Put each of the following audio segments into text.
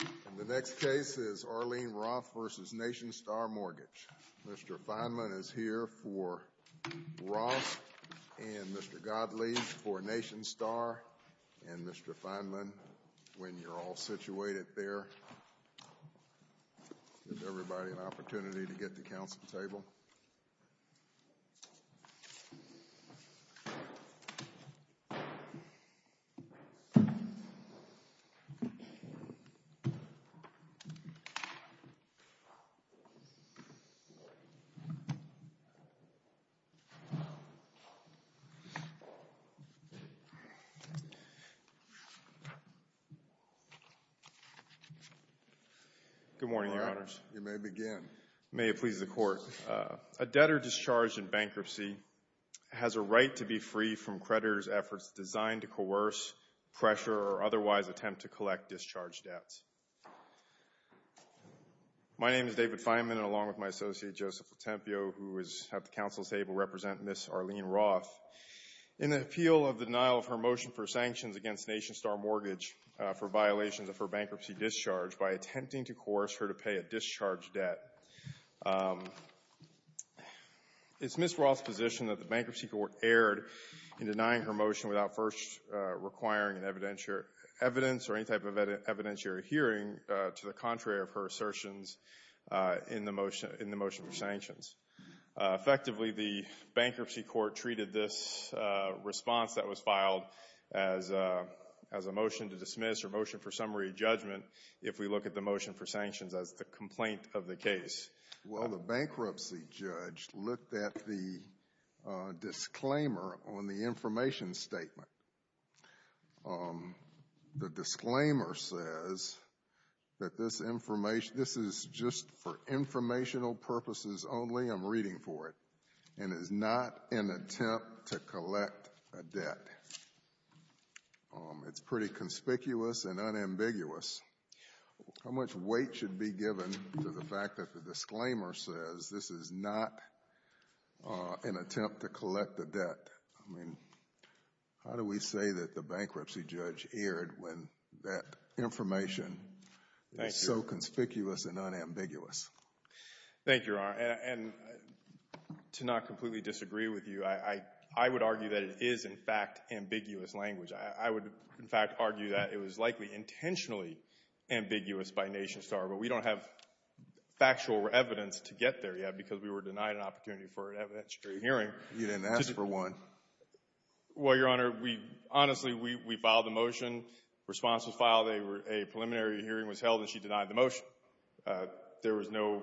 And the next case is Arlene Roth v. Nationstar Mortgage. Mr. Fineland is here for Roth, and Mr. Godley for Nationstar. And Mr. Fineland, when you're all situated there, give everybody an opportunity to get to counsel's table. Mr. Fineland. Good morning, Your Honors. You may begin. May it please the Court. A debtor discharged in bankruptcy has a right to be free from creditor's efforts designed to coerce, pressure, or otherwise attempt to collect discharge debts. My name is David Fineland, along with my associate, Joseph Petempio, who is at the counsel's table representing Ms. Arlene Roth. In the appeal of the denial of her motion for sanctions against Nationstar Mortgage for violations of her bankruptcy discharge by attempting to coerce her to pay a discharge debt, it's Ms. Roth's position that the Bankruptcy Court erred in denying her motion without first requiring an evidentiary evidence or any type of evidentiary hearing to the contrary of her assertions in the motion for sanctions. Effectively, the Bankruptcy Court treated this response that was filed as a motion to dismiss or motion for summary judgment if we look at the motion for sanctions as the complaint of the case. Well, the bankruptcy judge looked at the disclaimer on the information statement. The disclaimer says that this information, this is just for informational purposes only, I'm reading for it, and is not an attempt to collect a debt. It's pretty conspicuous and unambiguous. How much weight should be given to the fact that the disclaimer says this is not an attempt to collect a debt? I mean, how do we say that the bankruptcy judge erred when that information is so conspicuous and unambiguous? Thank you, Your Honor. And to not completely disagree with you, I would argue that it is, in fact, ambiguous language. I would, in fact, argue that it was likely intentionally ambiguous by NationStar, but we don't have factual evidence to get there yet because we were denied an opportunity for an evidentiary hearing. You didn't ask for one. Well, Your Honor, we, honestly, we filed the motion, the response was filed, a preliminary hearing was held, and she denied the motion. There was no,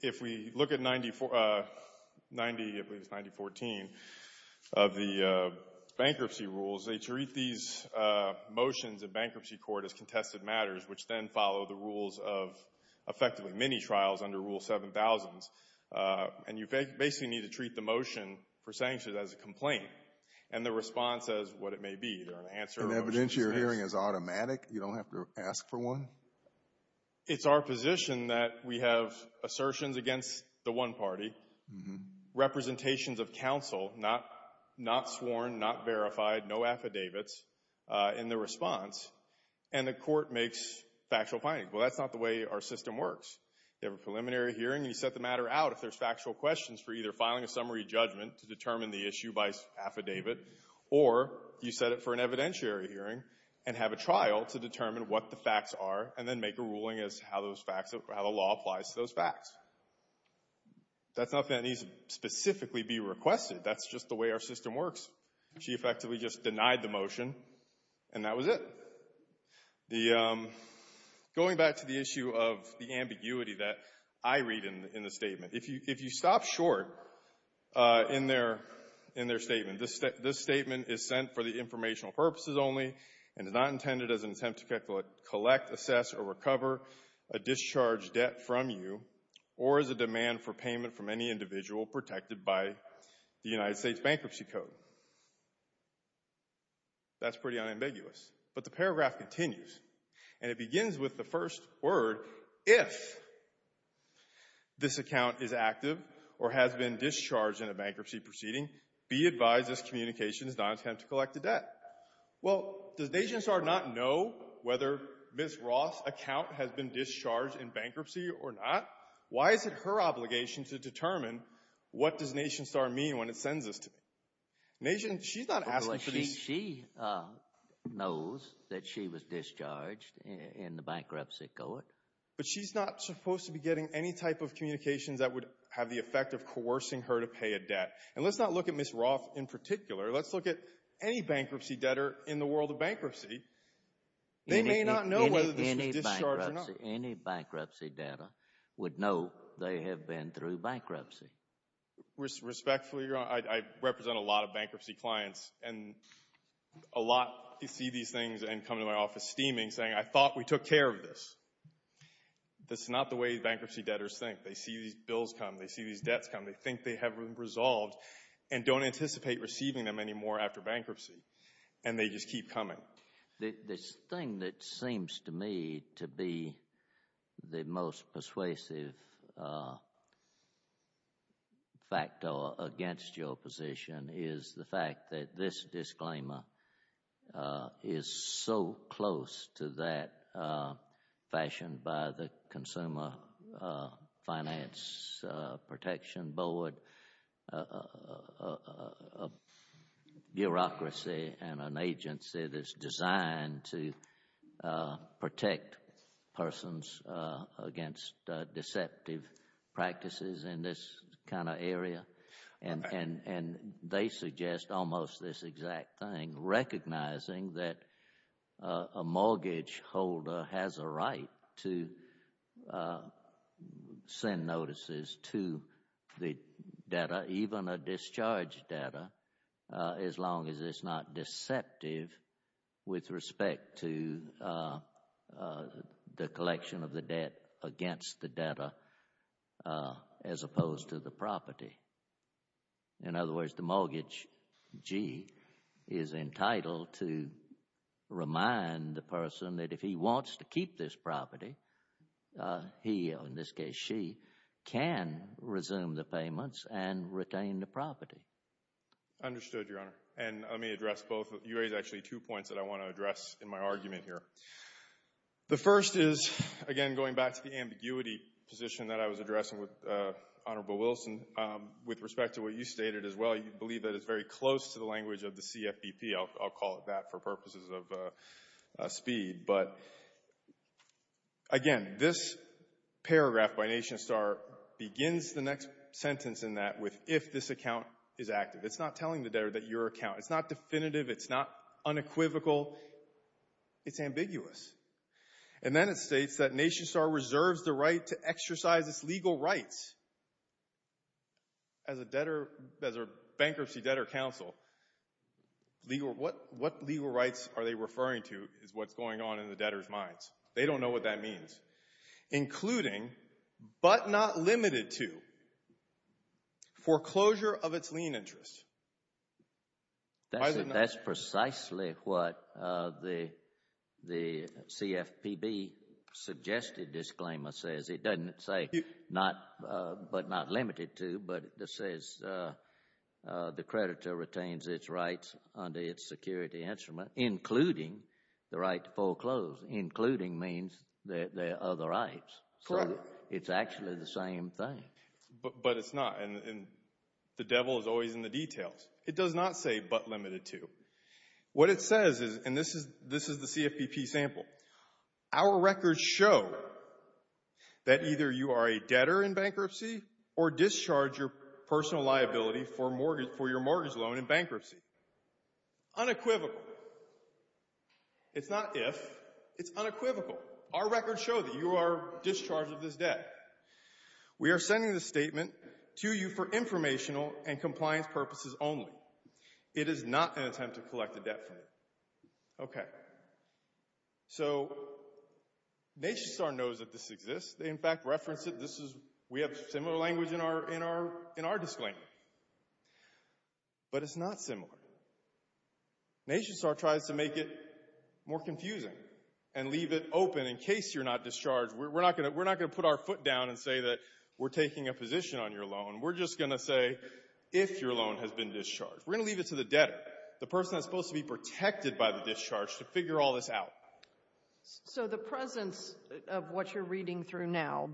if we look at 90, I believe it's 9014, of the bankruptcy rules, they treat these motions of bankruptcy court as contested matters, which then follow the rules of effectively many trials under Rule 7000s, and you basically need to treat the motion for sanctions as a complaint, and the response as what it may be, either an answer or a motion. An evidentiary hearing is automatic? You don't have to ask for one? It's our position that we have assertions against the one party, representations of counsel not sworn, not verified, no affidavits in the response, and the court makes factual findings. Well, that's not the way our system works. You have a preliminary hearing, you set the matter out if there's factual questions for either filing a summary judgment to determine the issue by hearing, and have a trial to determine what the facts are, and then make a ruling as how those facts, how the law applies to those facts. That's not something that needs to specifically be requested. That's just the way our system works. She effectively just denied the motion, and that was it. The, going back to the issue of the ambiguity that I read in the statement, if you stop short in their statement, this statement is sent for the informational purposes only and is not intended as an attempt to collect, assess, or recover a discharged debt from you, or as a demand for payment from any individual protected by the United States Bankruptcy Code. That's pretty unambiguous, but the paragraph continues, and it begins with the first word, if this account is active or has been discharged in a bankruptcy proceeding, be advised this communication is not an attempt to collect a debt. Well, does NationStar not know whether Ms. Ross' account has been discharged in bankruptcy or not? Why is it her obligation to determine what does NationStar mean when it sends this to me? Nation, she's not asking for this. She knows that she was discharged in the bankruptcy court. But she's not supposed to be getting any type of communications that would have the effect of coercing her to pay a debt, and let's not look at Ms. Ross in particular. Let's look at any bankruptcy debtor in the world of bankruptcy. They may not know whether this was discharged or not. Any bankruptcy debtor would know they have been through bankruptcy. Respectfully, Your Honor, I represent a lot of bankruptcy clients, and a lot see these things and come to my office steaming saying, I thought we took care of this. That's not the way bankruptcy debtors think. They see these bills come. They see these debts come. They think they have been resolved and don't anticipate receiving them anymore after bankruptcy, and they just keep coming. The thing that seems to me to be the most persuasive factor against your position is the fact that this disclaimer is so close to that fashion by the Consumer Finance Protection Board, a bureaucracy and an agency that's designed to protect persons against deceptive practices in this kind of area, and they suggest almost this to send notices to the debtor, even a discharged debtor, as long as it's not deceptive with respect to the collection of the debt against the debtor as opposed to the property. In other words, the mortgagee is entitled to remind the person that if he wants to keep this property, he or, in this case, she, can resume the payments and retain the property. Understood, Your Honor, and let me address both. You raised actually two points that I want to address in my argument here. The first is, again, going back to the ambiguity position that I was with respect to what you stated as well, you believe that it's very close to the language of the CFBP. I'll call it that for purposes of speed, but again, this paragraph by NationStar begins the next sentence in that with, if this account is active. It's not telling the debtor that your account, it's not definitive, it's not unequivocal, it's ambiguous. And then it states that NationStar reserves the right to exercise its legal rights. As a debtor, as a bankruptcy debtor counsel, what legal rights are they referring to is what's going on in the debtor's minds. They don't know what that means. Including, but not limited to, foreclosure of its lien interest. That's precisely what the CFPB suggested disclaimer says. It doesn't say, but not limited to, but it says the creditor retains its rights under its security instrument, including the right to foreclose. Including means there are other rights, so it's actually the same thing. But it's not, and the devil is always in the details. It does not say, but limited to. What it says is, and this is the CFPB sample, our records show that either you are a debtor in bankruptcy or discharge your personal liability for your mortgage loan in bankruptcy. Unequivocal. It's not if, it's unequivocal. Our records show that you are discharged of this debt. We are sending this statement to you for informational and compliance purposes only. It is not an attempt to collect a debt from you. Okay, so NationStar knows that this exists. They in fact reference it. This is, we have similar language in our disclaimer, but it's not similar. NationStar tries to make it more confusing and leave it open in case you're not discharged. We're not going to put our foot down and say that we're taking a position on your loan. We're just going to say if your loan has been discharged. We're going to leave it to the debtor, the person that's supposed to be protected by the discharge to figure all this out. So the presence of what you're reading through now,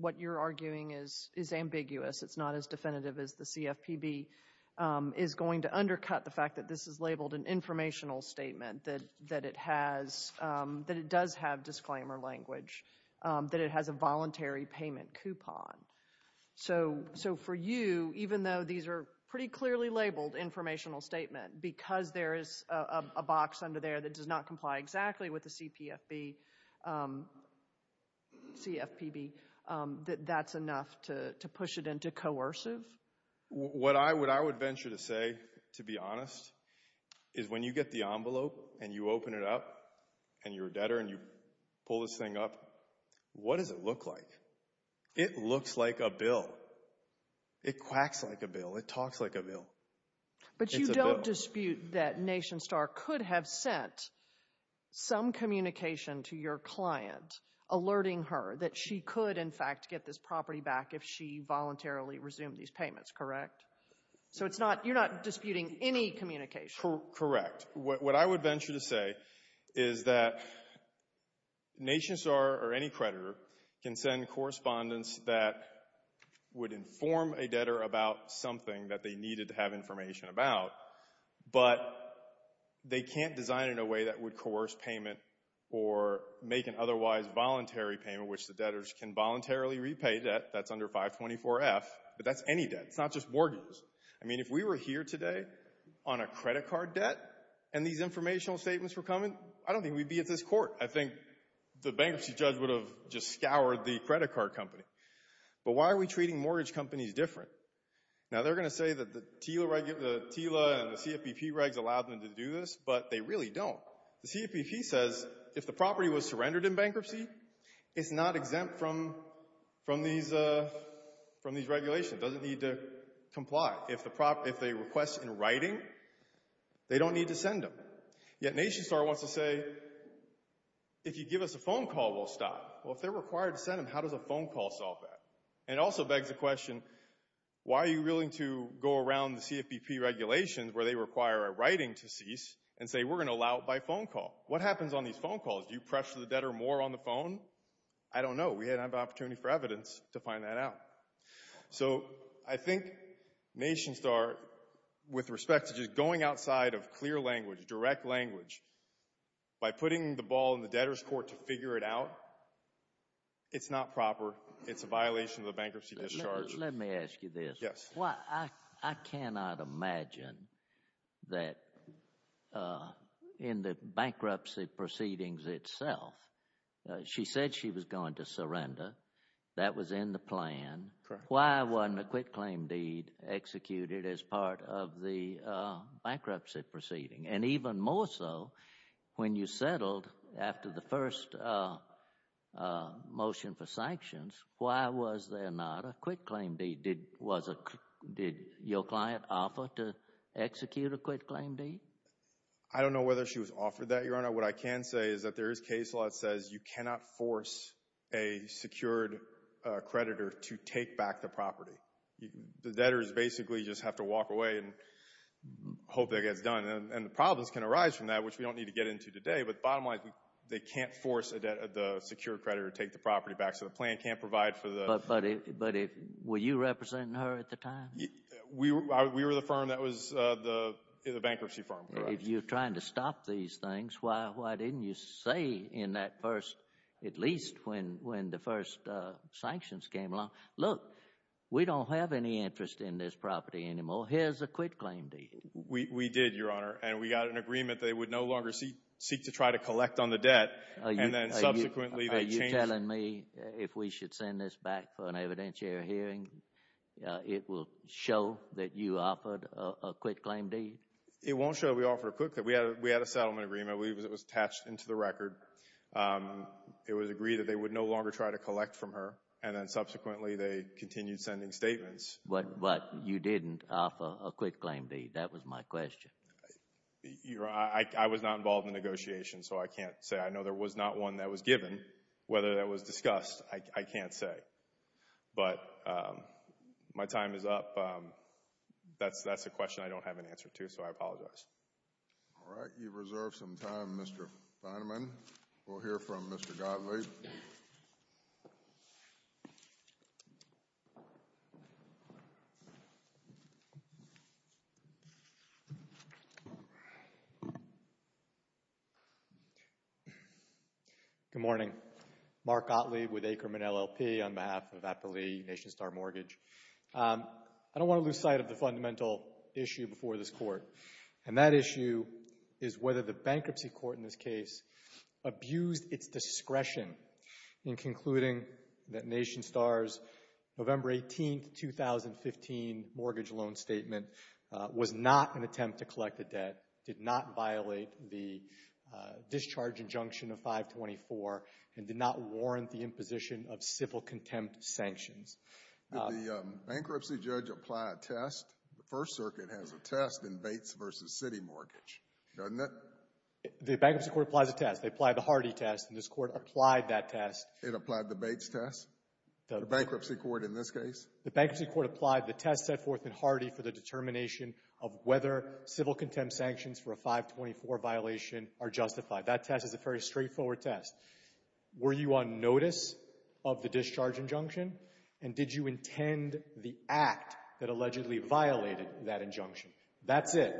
what you're arguing is ambiguous. It's not as definitive as the CFPB is going to undercut the fact that this is labeled an informational statement, that it has, that it does have disclaimer language, that it has a voluntary payment coupon. So for you, even though these are pretty clearly labeled informational statement, because there is a box under there that does not comply exactly with the CPFB, CFPB, that that's enough to push it into coercive? What I would venture to say, to be honest, is when you get the envelope and you open it up and you're a debtor and you pull this thing up, what does it look like? It looks like a bill. It quacks like a bill. It talks like a bill. But you don't dispute that NationStar could have sent some communication to your client alerting her that she could, in fact, get this property back if she voluntarily resumed these communications. Correct. What I would venture to say is that NationStar or any creditor can send correspondence that would inform a debtor about something that they needed to have information about, but they can't design it in a way that would coerce payment or make an otherwise voluntary payment, which the debtors can voluntarily repay debt that's under 524-F, but that's any debt. It's not just mortgages. I mean, if we were here today on a credit card debt and these informational statements were coming, I don't think we'd be at this court. I think the bankruptcy judge would have just scoured the credit card company. But why are we treating mortgage companies different? Now, they're going to say that the TILA and the CFPB regs allow them to do this, but they really don't. The CFPB says if the property was surrendered in bankruptcy, it's not exempt from these regulations. It doesn't need to comply. If they request in writing, they don't need to send them. Yet NationStar wants to say, if you give us a phone call, we'll stop. Well, if they're required to send them, how does a phone call solve that? And it also begs the question, why are you willing to go around the CFPB regulations where they require a writing to cease and say we're going to allow it by phone call? What happens on these phone calls? Do you pressure the debtor more on the phone? I don't know. We didn't have an opportunity for evidence to find that out. So I think NationStar, with respect to just going outside of clear language, direct language, by putting the ball in the debtor's court to figure it out, it's not proper. It's a violation of the bankruptcy discharges. Let me ask you this. Yes. I cannot imagine that in the bankruptcy proceedings itself, she said she was going to surrender. That was in the plan. Why wasn't a quitclaim deed executed as part of the bankruptcy proceeding? And even more so, when you settled after the first motion for sanctions, why was there not a quitclaim deed? Did your client offer to execute a quitclaim deed? I don't know whether she was offered that, Your Honor. What I can say is that there is case law that says you cannot force a secured creditor to take back the property. The debtors basically just have to walk away and hope that gets done. And the problems can arise from that, which we don't need to get into today, but bottom line, they can't force the secured creditor to take the property back, so the plan can't provide for the... But were you representing her at the time? We were the firm that was the bankruptcy firm. If you're trying to stop these things, why didn't you say in that first, at least when the first sanctions came along, look, we don't have any interest in this property anymore. Here's a quitclaim deed. We did, Your Honor, and we got an agreement they would no longer seek to try to collect on the debt, and then subsequently they changed... Are you telling me if we should send this back for an evidentiary hearing, it will show that you offered a quitclaim deed? It won't show we offered a quitclaim deed. We had a settlement agreement. It was attached into the record. It was agreed that they would no longer try to collect from her, and then subsequently they continued sending statements. But you didn't offer a quitclaim deed. That was my question. Your Honor, I was not involved in the negotiation, so I can't say. I know there was not one that was given. Whether that was discussed, I can't say. But my time is up. That's a question I don't have an answer to, so I apologize. All right. You've reserved some time, Mr. Fineman. We'll hear from Mr. Gottlieb. Good morning. Mark Gottlieb with Akerman LLP on behalf of Aptly Nation Star Mortgage. I don't want to lose sight of the fundamental issue before this Court, and that issue is whether the bankruptcy court in this case abused its discretion in concluding that Nation Star's November 18, 2015 mortgage loan statement was not an attempt to collect the debt, did not violate the discharge injunction of 524, and did not warrant the imposition of civil contempt sanctions. Did the bankruptcy judge apply a test? The First Circuit has a test in Bates v. City Mortgage, doesn't it? The bankruptcy court applies a test. They applied the Hardy test, and this Court applied that test. It applied the Bates test? The bankruptcy court in this case? The bankruptcy court applied the test set forth in Hardy for the determination of whether civil contempt sanctions for a 524 violation are justified. That test is a very straightforward test. Were you on notice of the discharge injunction, and did you intend the act that allegedly violated that injunction? That's it.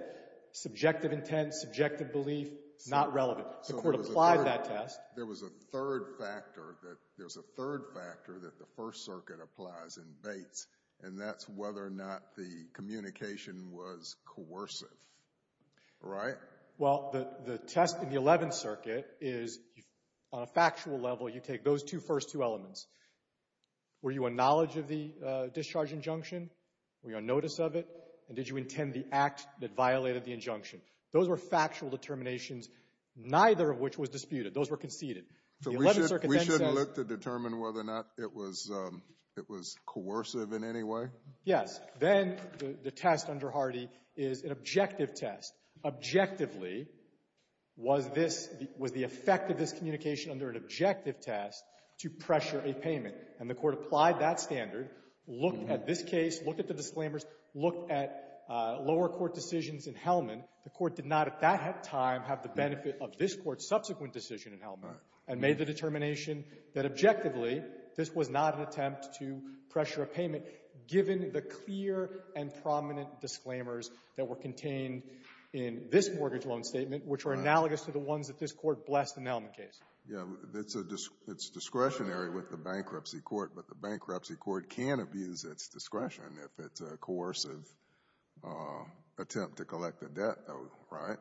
Subjective intent, subjective belief, not relevant. So the Court applied that test. There was a third factor that the First Circuit applies in Bates, and that's whether or not the communication was coercive, right? Well, the test in the 11th Circuit is, on a factual level, you take those two first two elements. Were you on knowledge of the discharge injunction? Were you on notice of it? And did you intend the act that violated the injunction? Those were factual determinations, neither of which was disputed. Those were conceded. The 11th Circuit then says we should look to determine whether or not it was coercive in any way? Yes. Then the test under Hardy is an objective test. Objectively, was this the – was the effect of this communication under an objective test to pressure a payment? And the Court applied that standard, looked at this case, looked at the disclaimers, looked at lower court decisions in Hellman. The Court did not at that time have the benefit of this Court's subsequent decision in Hellman and made the determination that, objectively, this was not an attempt to pressure a payment, given the clear and prominent disclaimers that were contained in this mortgage loan statement, which were analogous to the ones that this Court blessed in the Hellman case. Yes. It's discretionary with the bankruptcy court, but the bankruptcy court can abuse its discretion if it's a coercive attempt to collect a debt, though, right?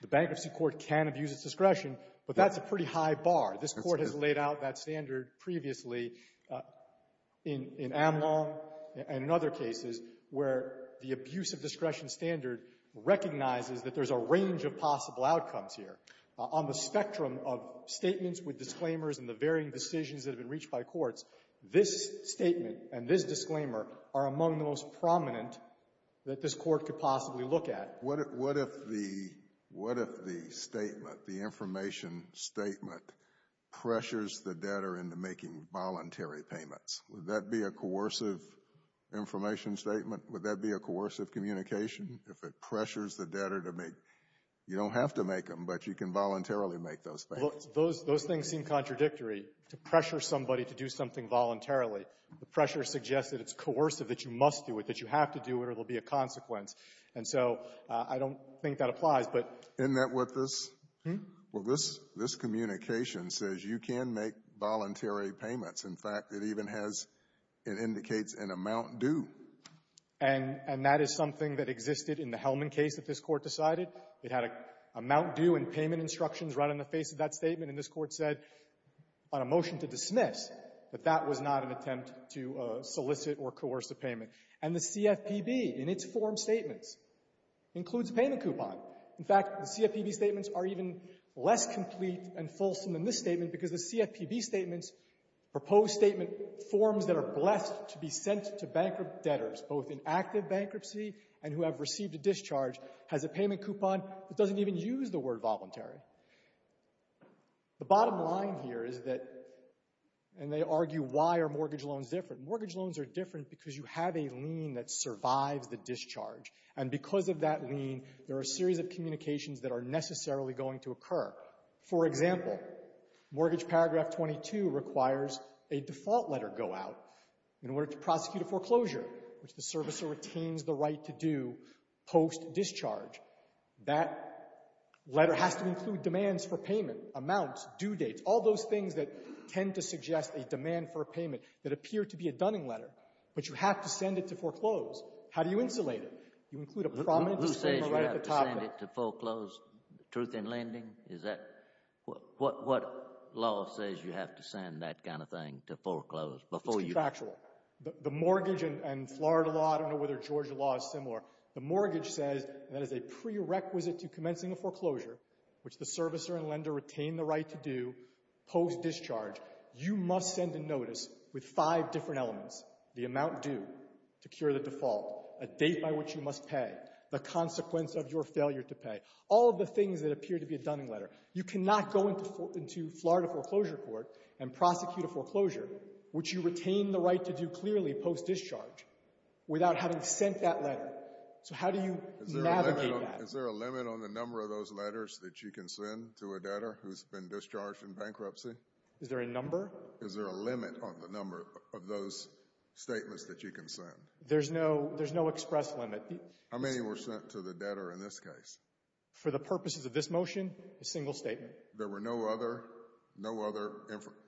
The bankruptcy court can abuse its discretion, but that's a pretty high bar. This Court has laid out that standard previously in Amlong and in other cases where the abuse of discretion standard recognizes that there's a range of possible outcomes here. On the spectrum of statements with disclaimers and the varying decisions that have been reached by courts, this statement and this disclaimer are among the most prominent that this Court could possibly look at. What if the statement, the information statement, pressures the debtor into making voluntary payments? Would that be a coercive information statement? Would that be a coercive communication? If it pressures the debtor to make you don't have to make them, but you can voluntarily make those payments? Those things seem contradictory. To pressure somebody to do something voluntarily, the pressure suggests that it's coercive, that you must do it, that you have to do it or there will be a consequence. And so I don't think that applies, but — Isn't that what this — Hmm? Well, this communication says you can make voluntary payments. In fact, it even has — it indicates an amount due. And that is something that existed in the Hellman case that this Court decided. It had an amount due and payment instructions right on the face of that statement. And this Court said on a motion to dismiss that that was not an attempt to solicit or coerce a payment. And the CFPB, in its form statements, includes a payment coupon. In fact, the CFPB statements are even less complete and fulsome than this statement because the CFPB statements, proposed statement forms that are blessed to be sent to bankrupt debtors, both in active bankruptcy and who have received a discharge, has a payment coupon that doesn't even use the word voluntary. The bottom line here is that — and they argue why are mortgage loans different. Mortgage loans are different because you have a lien that survives the discharge. And because of that lien, there are a series of communications that are necessarily going to occur. For example, Mortgage Paragraph 22 requires a default letter go out in order to prosecute a foreclosure, which the servicer retains the right to do post-discharge. That letter has to include demands for payment, amounts, due dates, all those things that tend to suggest a demand for a payment that appear to be a Dunning letter. But you have to send it to foreclose. How do you insulate it? You include a prominent statement right at the top of it. Who says you have to send it to foreclose? Truth in Lending? Is that — what law says you have to send that kind of thing to foreclose before you — It's factual. The mortgage and Florida law — I don't know whether Georgia law is similar. The mortgage says that as a prerequisite to commencing a foreclosure, which the servicer and lender retain the right to do post-discharge, you must send a notice with five different elements. The amount due to cure the default. A date by which you must pay. The consequence of your failure to pay. All of the things that appear to be a Dunning letter. You cannot go into Florida foreclosure court and prosecute a foreclosure, which you retain the right to do clearly post-discharge, without having sent that letter. So how do you navigate that? Is there a limit on the number of those letters that you can send to a debtor who's been discharged in bankruptcy? Is there a number? Is there a limit on the number of those statements that you can send? There's no — there's no express limit. How many were sent to the debtor in this case? For the purposes of this motion, a single statement. There were no other — no other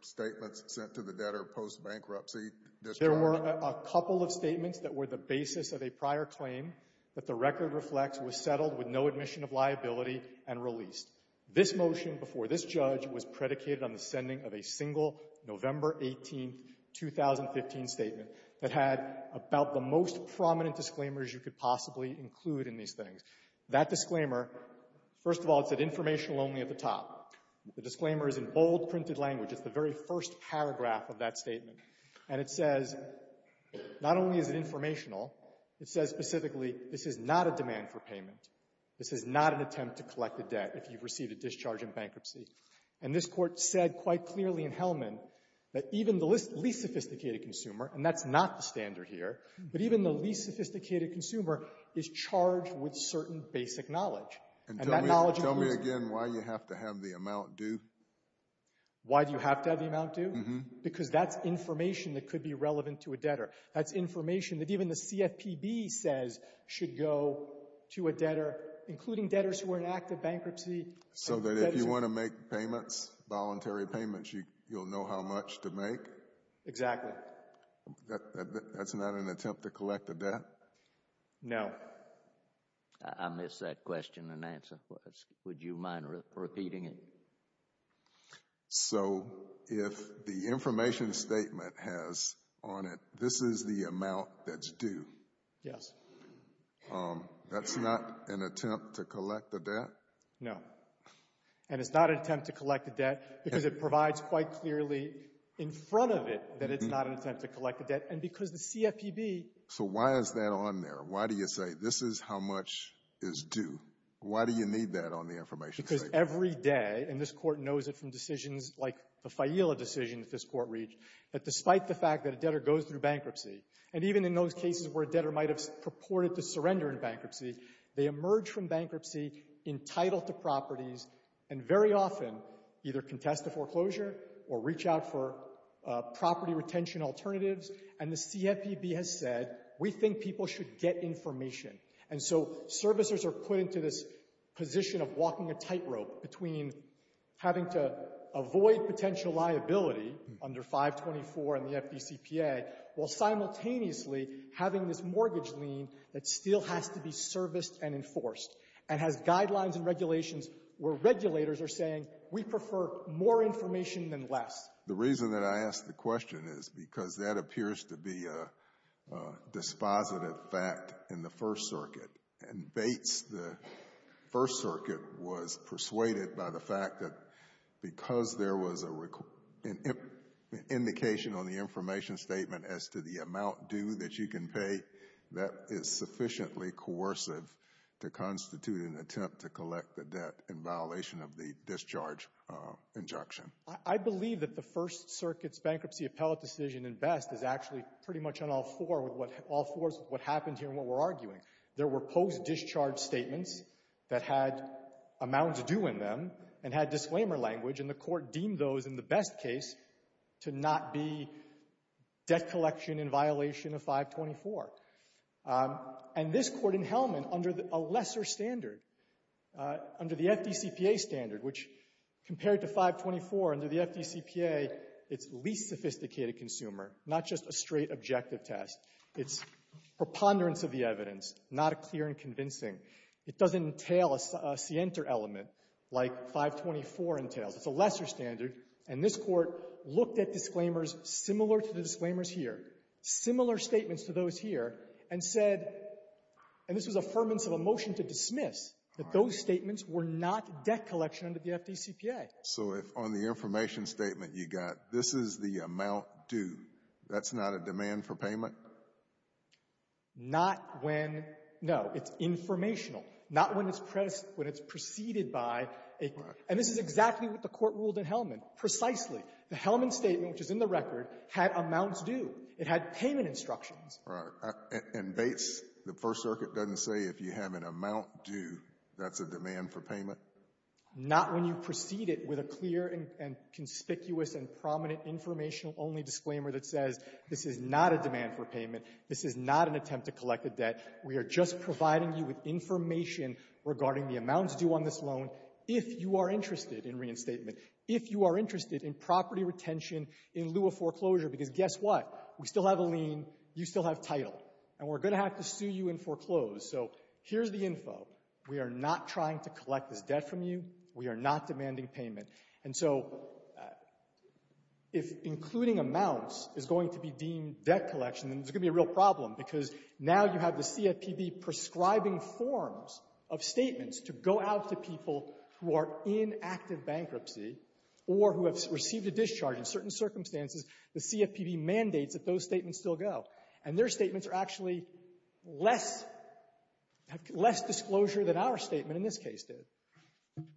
statements sent to the debtor post-bankruptcy? There were a couple of statements that were the basis of a prior claim that the record reflects was settled with no admission of liability and released. This motion before this judge was predicated on the sending of a single November 18, 2015 statement that had about the most prominent disclaimers you could possibly include in these things. That disclaimer, first of all, it said informational only at the top. The disclaimer is in bold printed language. It's the very first paragraph of that statement. And it says, not only is it informational, it says specifically, this is not a demand for payment. This is not an attempt to collect a debt. You've received a discharge in bankruptcy. And this Court said quite clearly in Hellman that even the least sophisticated consumer, and that's not the standard here, but even the least sophisticated consumer is charged with certain basic knowledge. And that knowledge includes — Tell me again why you have to have the amount due? Why do you have to have the amount due? Because that's information that could be relevant to a debtor. That's information that even the CFPB says should go to a debtor, including debtors who are in active bankruptcy. So that if you want to make payments, voluntary payments, you'll know how much to make? Exactly. That's not an attempt to collect a debt? No. I missed that question and answer. Would you mind repeating it? So if the information statement has on it, this is the amount that's due? Yes. Um, that's not an attempt to collect a debt? No. And it's not an attempt to collect a debt because it provides quite clearly in front of it that it's not an attempt to collect a debt. And because the CFPB — So why is that on there? Why do you say this is how much is due? Why do you need that on the information statement? Because every day, and this Court knows it from decisions like the Fayila decision that this Court reached, that despite the fact that a debtor goes through bankruptcy, and even in those cases where a debtor might have purported to surrender in bankruptcy, they emerge from bankruptcy entitled to properties and very often either contest a foreclosure or reach out for property retention alternatives. And the CFPB has said, we think people should get information. And so servicers are put into this position of walking a tightrope between having to avoid potential liability under 524 and the FDCPA while simultaneously having this mortgage lien that still has to be serviced and enforced and has guidelines and regulations where regulators are saying, we prefer more information than less. The reason that I ask the question is because that appears to be a dispositive fact in the First Circuit. And Bates, the First Circuit, was persuaded by the fact that because there was a indication on the information statement as to the amount due that you can pay, that is sufficiently coercive to constitute an attempt to collect the debt in violation of the discharge injunction. I believe that the First Circuit's bankruptcy appellate decision in Best is actually pretty much on all fours with what happened here and what we're arguing. There were post-discharge statements that had amounts due in them and had disclaimer language, and the Court deemed those in the Best case to not be debt collection in violation of 524. And this Court in Hellman, under a lesser standard, under the FDCPA standard, which compared to 524 under the FDCPA, it's least sophisticated consumer, not just a straight objective test. It's preponderance of the evidence, not clear and convincing. It doesn't entail a scienter element like 524 entails. It's a lesser standard. And this Court looked at disclaimers similar to the disclaimers here, similar statements to those here, and said, and this was affirmance of a motion to dismiss, that those statements were not debt collection under the FDCPA. So if on the information statement you got, this is the amount due, that's not a demand for payment? Not when, no. It's informational. Not when it's preceded by. And this is exactly what the Court ruled in Hellman. Precisely. The Hellman statement, which is in the record, had amounts due. It had payment instructions. Right. And Bates, the First Circuit doesn't say if you have an amount due, that's a demand for payment? Not when you precede it with a clear and conspicuous and prominent informational-only disclaimer that says, this is not a demand for payment. This is not an attempt to collect a debt. We are just providing you with information regarding the amounts due on this loan if you are interested in reinstatement, if you are interested in property retention in lieu of foreclosure. Because guess what? We still have a lien. You still have title. And we're going to have to sue you and foreclose. So here's the info. We are not trying to collect this debt from you. We are not demanding payment. And so if including amounts is going to be deemed debt collection, then there's going to be a real problem. Because now you have the CFPB prescribing forms of statements to go out to people who are in active bankruptcy or who have received a discharge in certain circumstances. The CFPB mandates that those statements still go. And their statements are actually less, less disclosure than our statement in this case did.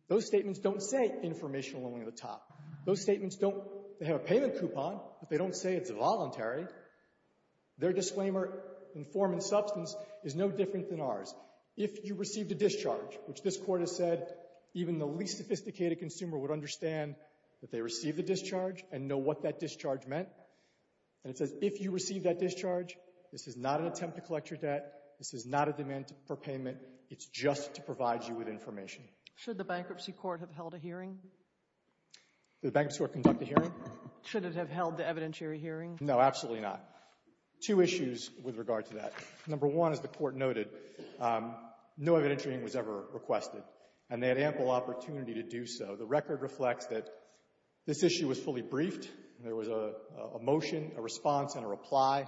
Those statements don't say informational-only at the top. Those statements don't, they have a payment coupon, but they don't say it's voluntary. Their disclaimer in form and substance is no different than ours. If you received a discharge, which this Court has said even the least sophisticated consumer would understand that they received a discharge and know what that discharge meant. And it says if you received that discharge, this is not an attempt to collect your debt. This is not a demand for payment. It's just to provide you with information. Should the Bankruptcy Court have held a hearing? Did the Bankruptcy Court conduct a hearing? Should it have held the evidentiary hearing? No, absolutely not. Two issues with regard to that. Number one, as the Court noted, no evidentiary hearing was ever requested. And they had ample opportunity to do so. The record reflects that this issue was fully briefed. There was a motion, a response, and a reply.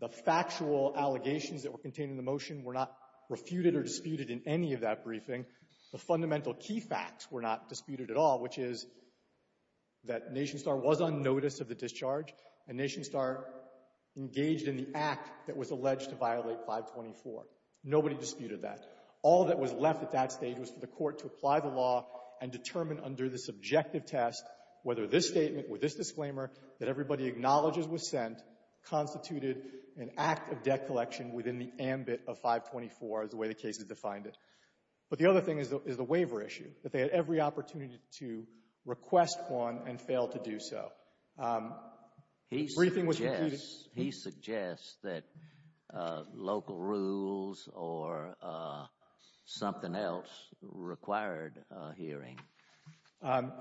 The factual allegations that were contained in the motion were not refuted or disputed in any of that briefing. The fundamental key facts were not disputed at all, which is that NationStar was on notice of the discharge and NationStar engaged in the act that was alleged to violate 524. Nobody disputed that. All that was left at that stage was for the Court to apply the law and determine under the subjective test whether this statement or this disclaimer that everybody acknowledges was sent constituted an act of debt collection within the ambit of 524 as the way the case has defined it. But the other thing is the waiver issue, that they had every opportunity to request one and failed to do so. The briefing was repeated. He suggests that local rules or something else required a hearing.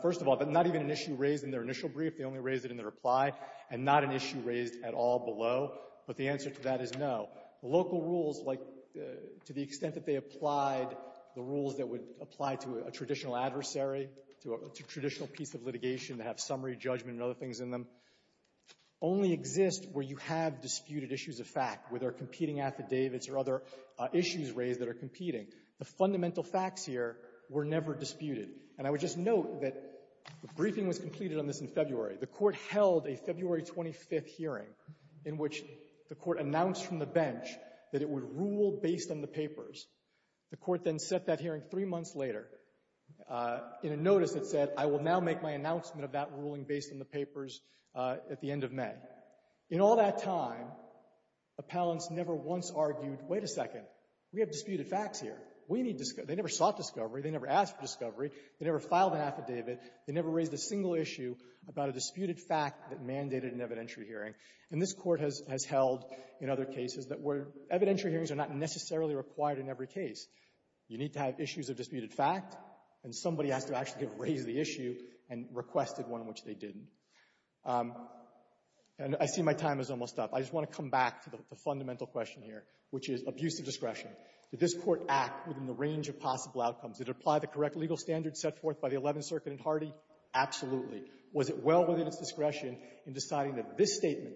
First of all, not even an issue raised in their initial brief. They only raised it in their reply and not an issue raised at all below. But the answer to that is no. Local rules, like to the extent that they applied the rules that would apply to a traditional adversary, to a traditional piece of litigation that have summary judgment and other things in them, only exist where you have disputed issues of fact, where there are competing affidavits or other issues raised that are competing. The fundamental facts here were never disputed. And I would just note that the briefing was completed on this in February. The Court held a February 25th hearing in which the Court announced from the bench that it would rule based on the papers. The Court then set that hearing three months later. In a notice, it said, I will now make my announcement of that ruling based on the papers at the end of May. In all that time, appellants never once argued, wait a second, we have disputed facts here. We need to say they never sought discovery. They never asked for discovery. They never filed an affidavit. They never raised a single issue about a disputed fact that mandated an evidentiary hearing. And this Court has held in other cases that evidentiary hearings are not necessarily required in every case. You need to have issues of disputed fact, and somebody has to actually have raised the issue and requested one in which they didn't. And I see my time is almost up. I just want to come back to the fundamental question here, which is abuse of discretion. Did this Court act within the range of possible outcomes? Did it apply the correct legal standards set forth by the Eleventh Circuit and Hardy? Absolutely. Was it well within its discretion in deciding that this statement,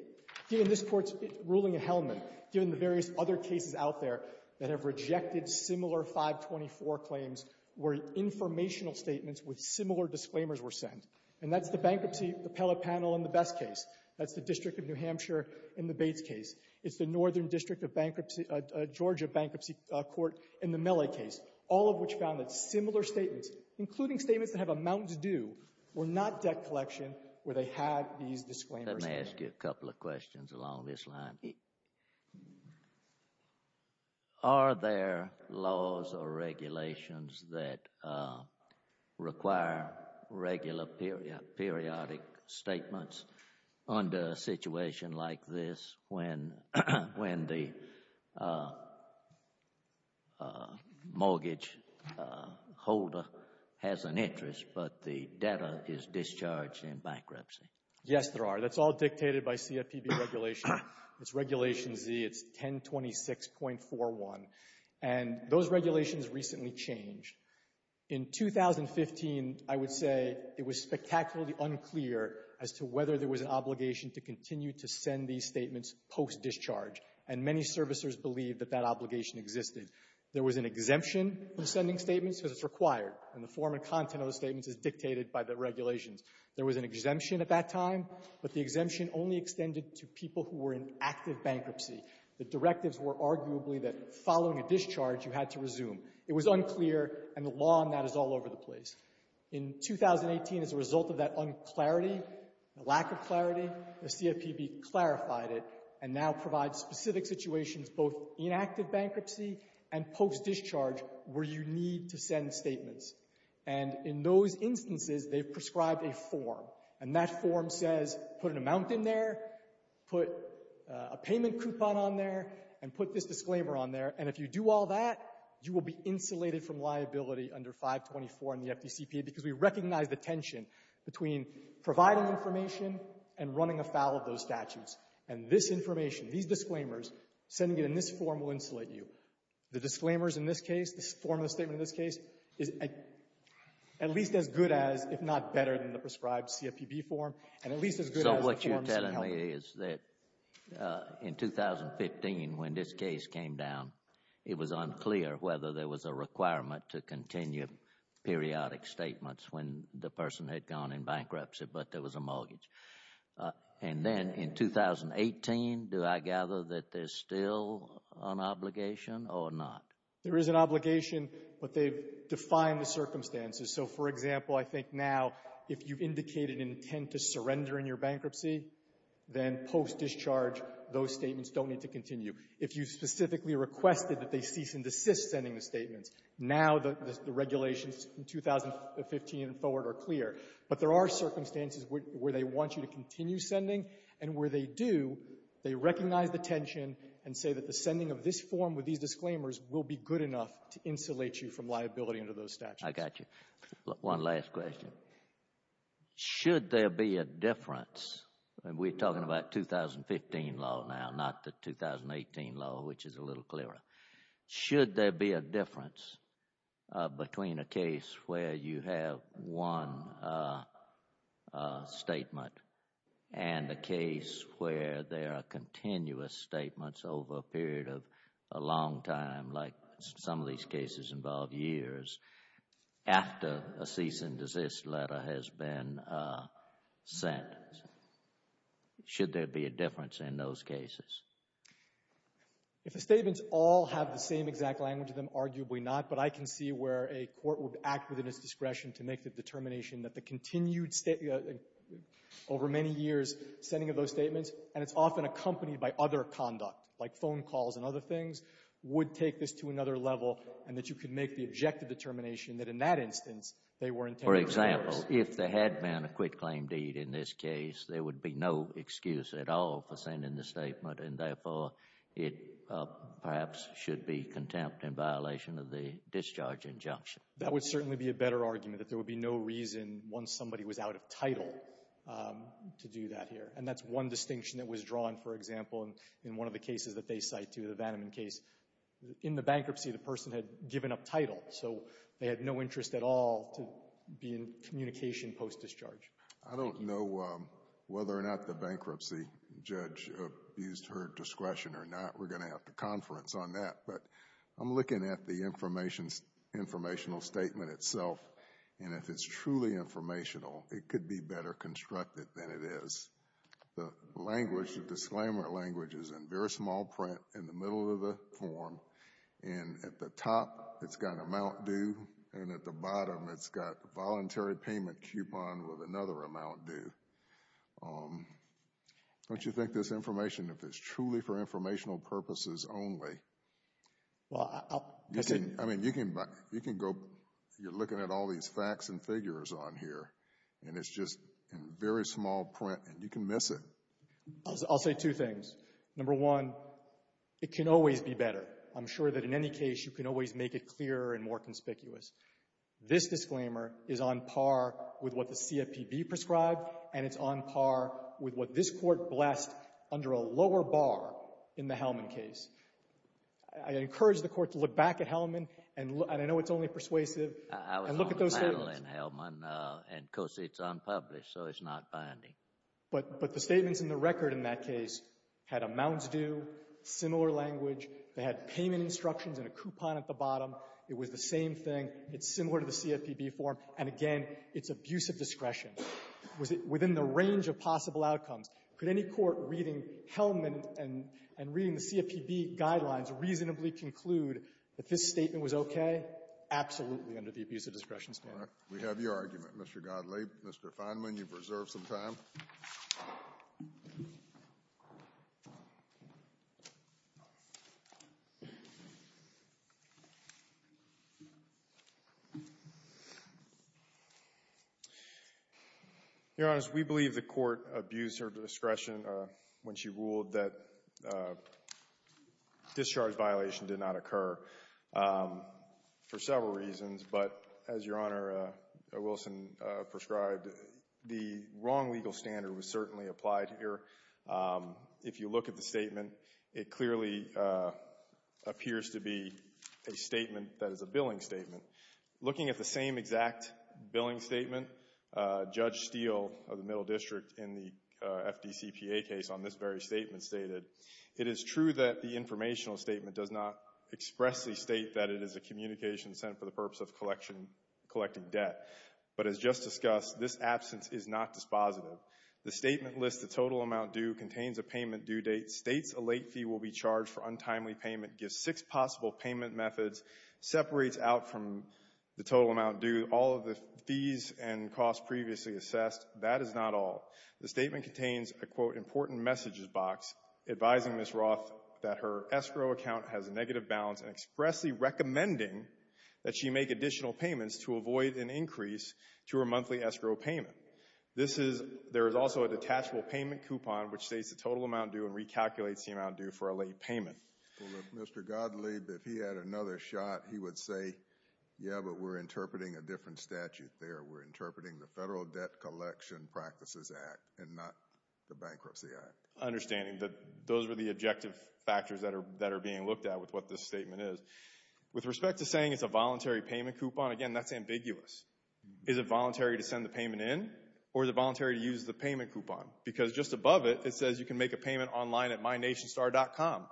given this Court's ruling at Hellman, given the various other cases out there that have rejected similar 524 claims were informational statements with similar disclaimers were sent? And that's the bankruptcy appellate panel in the Best case. That's the District of New Hampshire in the Bates case. It's the Northern District of Bankruptcy, Georgia Bankruptcy Court in the Milley case, all of which found that similar statements, including statements that have a mountain to do, were not debt collection where they had these disclaimers. Let me ask you a couple of questions along this line. Are there laws or regulations that require regular periodic statements under a situation like this when the mortgage holder has an interest, but the debtor is discharged in bankruptcy? Yes, there are. That's all dictated by CFPB regulation. It's Regulation Z. It's 1026.41. And those regulations recently changed. In 2015, I would say it was spectacularly unclear as to whether there was an obligation to continue to send these statements post-discharge, and many servicers believe that that obligation existed. There was an exemption from sending statements because it's required, and the form and content of the statements is dictated by the regulations. There was an exemption at that time, but the exemption only extended to people who were in active bankruptcy. The directives were arguably that following a discharge, you had to resume. It was unclear, and the law on that is all over the place. In 2018, as a result of that unclarity, the lack of clarity, the CFPB clarified it and now provides specific situations, both in active bankruptcy and post-discharge, where you need to send statements. And in those instances, they've prescribed a form, and that form says, put an amount in there, put a payment coupon on there, and put this disclaimer on there, and if you do all that, you will be insulated from liability under 524 in the FDCPA because we recognize the tension between providing information and running afoul of those statutes. And this information, these disclaimers, sending it in this form will insulate you. The disclaimers in this case, the form of the statement in this case, is at least as good as, if not better than the prescribed CFPB form, and at least as good as the forms that help them. My understanding is that in 2015, when this case came down, it was unclear whether there was a requirement to continue periodic statements when the person had gone in bankruptcy, but there was a mortgage. And then in 2018, do I gather that there's still an obligation or not? There is an obligation, but they've defined the circumstances. So, for example, I think now, if you've indicated intent to surrender in your bankruptcy, then post-discharge, those statements don't need to continue. If you specifically requested that they cease and desist sending the statements, now the regulations from 2015 and forward are clear. But there are circumstances where they want you to continue sending, and where they do, they recognize the tension and say that the sending of this form with these disclaimers will be good enough to insulate you from liability under those statutes. I got you. One last question. Should there be a difference and we're talking about 2015 law now, not the 2018 law, which is a little clearer. Should there be a difference between a case where you have one statement and a case where there are continuous statements over a period of a long time, like some of these cases involve years, after a cease and desist letter has been sent? Should there be a difference in those cases? If the statements all have the same exact language, then arguably not. But I can see where a court would act within its discretion to make the determination that the continued over many years sending of those statements, and it's often accompanied by other conduct, like phone calls and other things, would take this to another level and that you could make the objective determination that in that instance, they were intended. For example, if there had been a quitclaim deed in this case, there would be no excuse at all for sending the statement, and therefore it perhaps should be contempt in violation of the discharge injunction. That would certainly be a better argument, that there would be no reason once somebody was out of title to do that here. And that's one distinction that was drawn, for example, in one of the cases that they cite too, the Vanneman case. In the bankruptcy, the person had given up title, so they had no interest at all to be in communication post-discharge. I don't know whether or not the bankruptcy judge abused her discretion or not. We're going to have to conference on that, but I'm looking at the informational statement itself, and if it's truly informational, it could be better constructed than it is. The language, the disclaimer language, is in very small print in the middle of the form, and at the top, it's got amount due, and at the bottom, it's got voluntary payment coupon with another amount due. Don't you think this information, if it's truly for informational purposes only, well, I mean, you can go, you're looking at all these facts and figures on here, and it's just in very small print, and you can miss it. I'll say two things. Number one, it can always be better. I'm sure that in any case, you can always make it clearer and more conspicuous. This disclaimer is on par with what the CFPB prescribed, and it's on par with what this Court blessed under a lower bar in the Hellman case. I encourage the Court to look back at Hellman, and I know it's only persuasive. I was on the panel in Hellman, and, of course, it's unpublished, so it's not binding. But the statements in the record in that case had amounts due, similar language. They had payment instructions and a coupon at the bottom. It was the same thing. It's similar to the CFPB form, and, again, it's abuse of discretion. Was it within the range of possible outcomes? Could any court reading Hellman and reading the CFPB guidelines reasonably conclude that this statement was okay? Absolutely under the abuse of discretion standard. Kennedy. We have your argument, Mr. Godley. Mr. Feinman, you've reserved some time. Your Honor, we believe the Court abused her discretion when she ruled that discharge violation did not occur for several reasons. But, as Your Honor Wilson prescribed, the wrong legal standard was certainly applied here. If you look at the statement, it clearly appears to be a statement that is a billing statement. Looking at the same exact billing statement, Judge Steele of the Middle District in the FDCPA case on this very statement stated, it is true that the informational statement does not expressly state that it is a communication sent for the purpose of collecting debt. But, as just discussed, this absence is not dispositive. The statement lists the total amount due, contains a payment due date, states a late fee will be charged for untimely payment, gives six possible payment methods, separates out from the total amount due all of the fees and costs previously assessed. That is not all. The statement contains a, quote, important messages box advising Ms. Roth that her escrow account has a negative balance and expressly recommending that she make additional payments to avoid an increase to her monthly escrow payment. There is also a detachable payment coupon which states the total amount due and recalculates the amount due for a late payment. Well, if Mr. Godley, if he had another shot, he would say, yeah, but we're interpreting a different statute there. We're interpreting the Federal Debt Collection Practices Act and not the Bankruptcy Act. Understanding that those are the objective factors that are being looked at with what this statement is. With respect to saying it's a voluntary payment coupon, again, that's ambiguous. Is it voluntary to send the payment in? Or is it voluntary to use the payment coupon? Because just above it, it says you can make a payment online at mynationstar.com.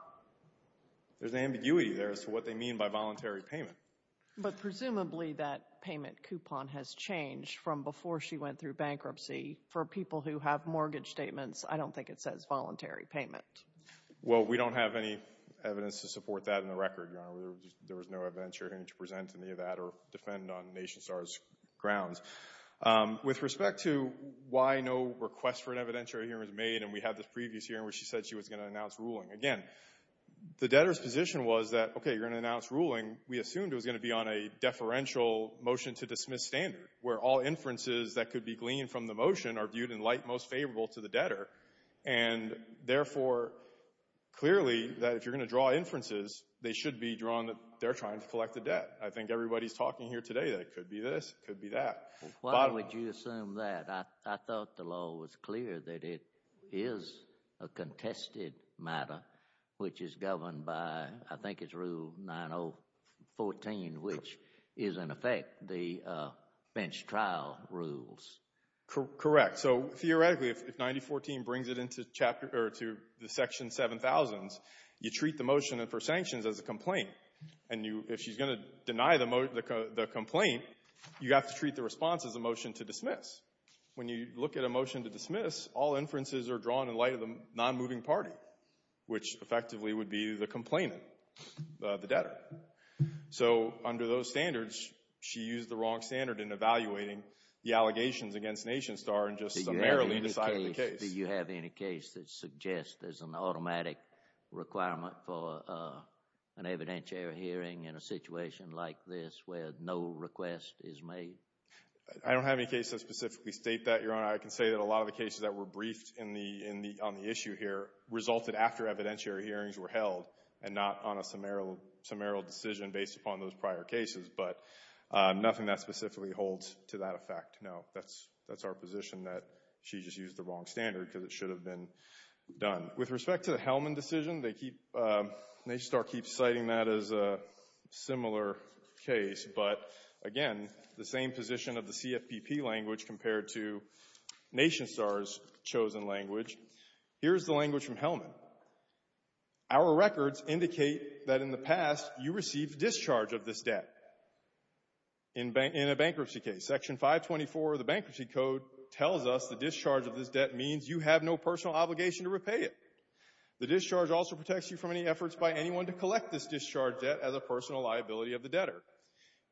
There's ambiguity there as to what they mean by voluntary payment. But presumably that payment coupon has changed from before she went through bankruptcy. For people who have mortgage statements, I don't think it says voluntary payment. Well, we don't have any evidence to support that in the record, Your Honor. There was no evidentiary hearing to present any of that or defend on NationStar's grounds. With respect to why no request for an evidentiary hearing was made, and we had this previous hearing where she said she was going to announce ruling. Again, the debtor's position was that, OK, you're going to announce ruling. We assumed it was going to be on a deferential motion to dismiss standard, where all inferences that could be gleaned from the motion are viewed in light most favorable to the debtor. And therefore, clearly, that if you're going to draw inferences, they should be drawn that they're trying to collect the debt. I think everybody's talking here today that it could be this, it could be that. Why would you assume that? I thought the law was clear that it is a contested matter, which is governed by, I think it's Rule 9014, which is, in effect, the bench trial rules. Correct. So theoretically, if 9014 brings it into the Section 7000s, you treat the motion for sanctions as a complaint. And if she's going to deny the complaint, you have to treat the response as a motion to dismiss. When you look at a motion to dismiss, all inferences are drawn in light of the non-moving party, which effectively would be the complainant, the debtor. So under those standards, she used the wrong standard in evaluating the allegations against NationStar and just summarily decided the case. Do you have any case that suggests there's an automatic requirement for an evidentiary hearing in a situation like this where no request is made? I don't have any case that specifically state that, Your Honor. I can say that a lot of the cases that were briefed on the issue here resulted after evidentiary hearings were held and not on a summarial decision based upon those prior cases. But nothing that specifically holds to that effect. No, that's our position that she just used the wrong standard because it should have been done. With respect to the Hellman decision, NationStar keeps citing that as a similar case. But again, the same position of the CFPP language compared to NationStar's chosen language. Here's the language from Hellman. Our records indicate that in the past you received discharge of this debt in a bankruptcy case. Section 524 of the Bankruptcy Code tells us the discharge of this debt means you have no personal obligation to repay it. The discharge also protects you from any efforts by anyone to collect this discharge debt as a personal liability of the debtor.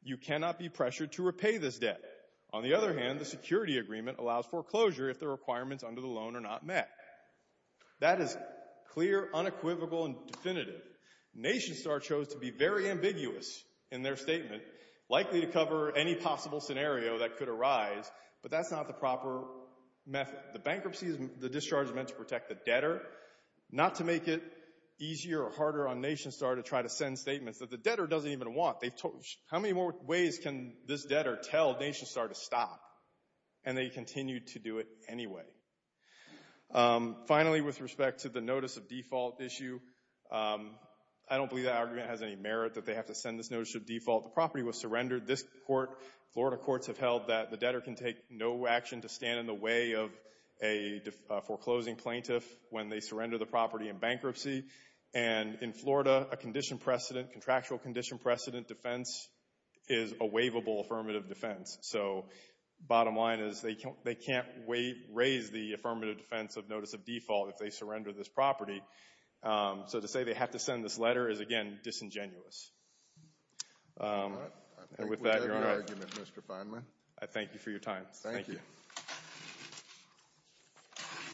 You cannot be pressured to repay this debt. On the other hand, the security agreement allows foreclosure if the requirements under the loan are not met. That is clear, unequivocal, and definitive. NationStar chose to be very ambiguous in their statement, likely to cover any possible scenario that could arise, but that's not the proper method. The bankruptcy, the discharge is meant to protect the debtor, not to make it easier or harder on NationStar to try to send statements that the debtor doesn't even want. How many more ways can this debtor tell NationStar to stop? And they continue to do it anyway. Finally, with respect to the notice of default issue, I don't believe that argument has any merit that they have to send this notice of default. The property was surrendered. This court, Florida courts have held that the debtor can take no action to stand in the way of a foreclosing plaintiff when they surrender the property in bankruptcy. And in Florida, a condition precedent, contractual condition precedent defense is a waivable affirmative defense. So bottom line is they can't raise the affirmative defense of notice of default if they surrender this property. So to say they have to send this letter is, again, disingenuous. And with that, Your Honor, I think we have your argument, Mr. Fineman. I thank you for your time. Thank you.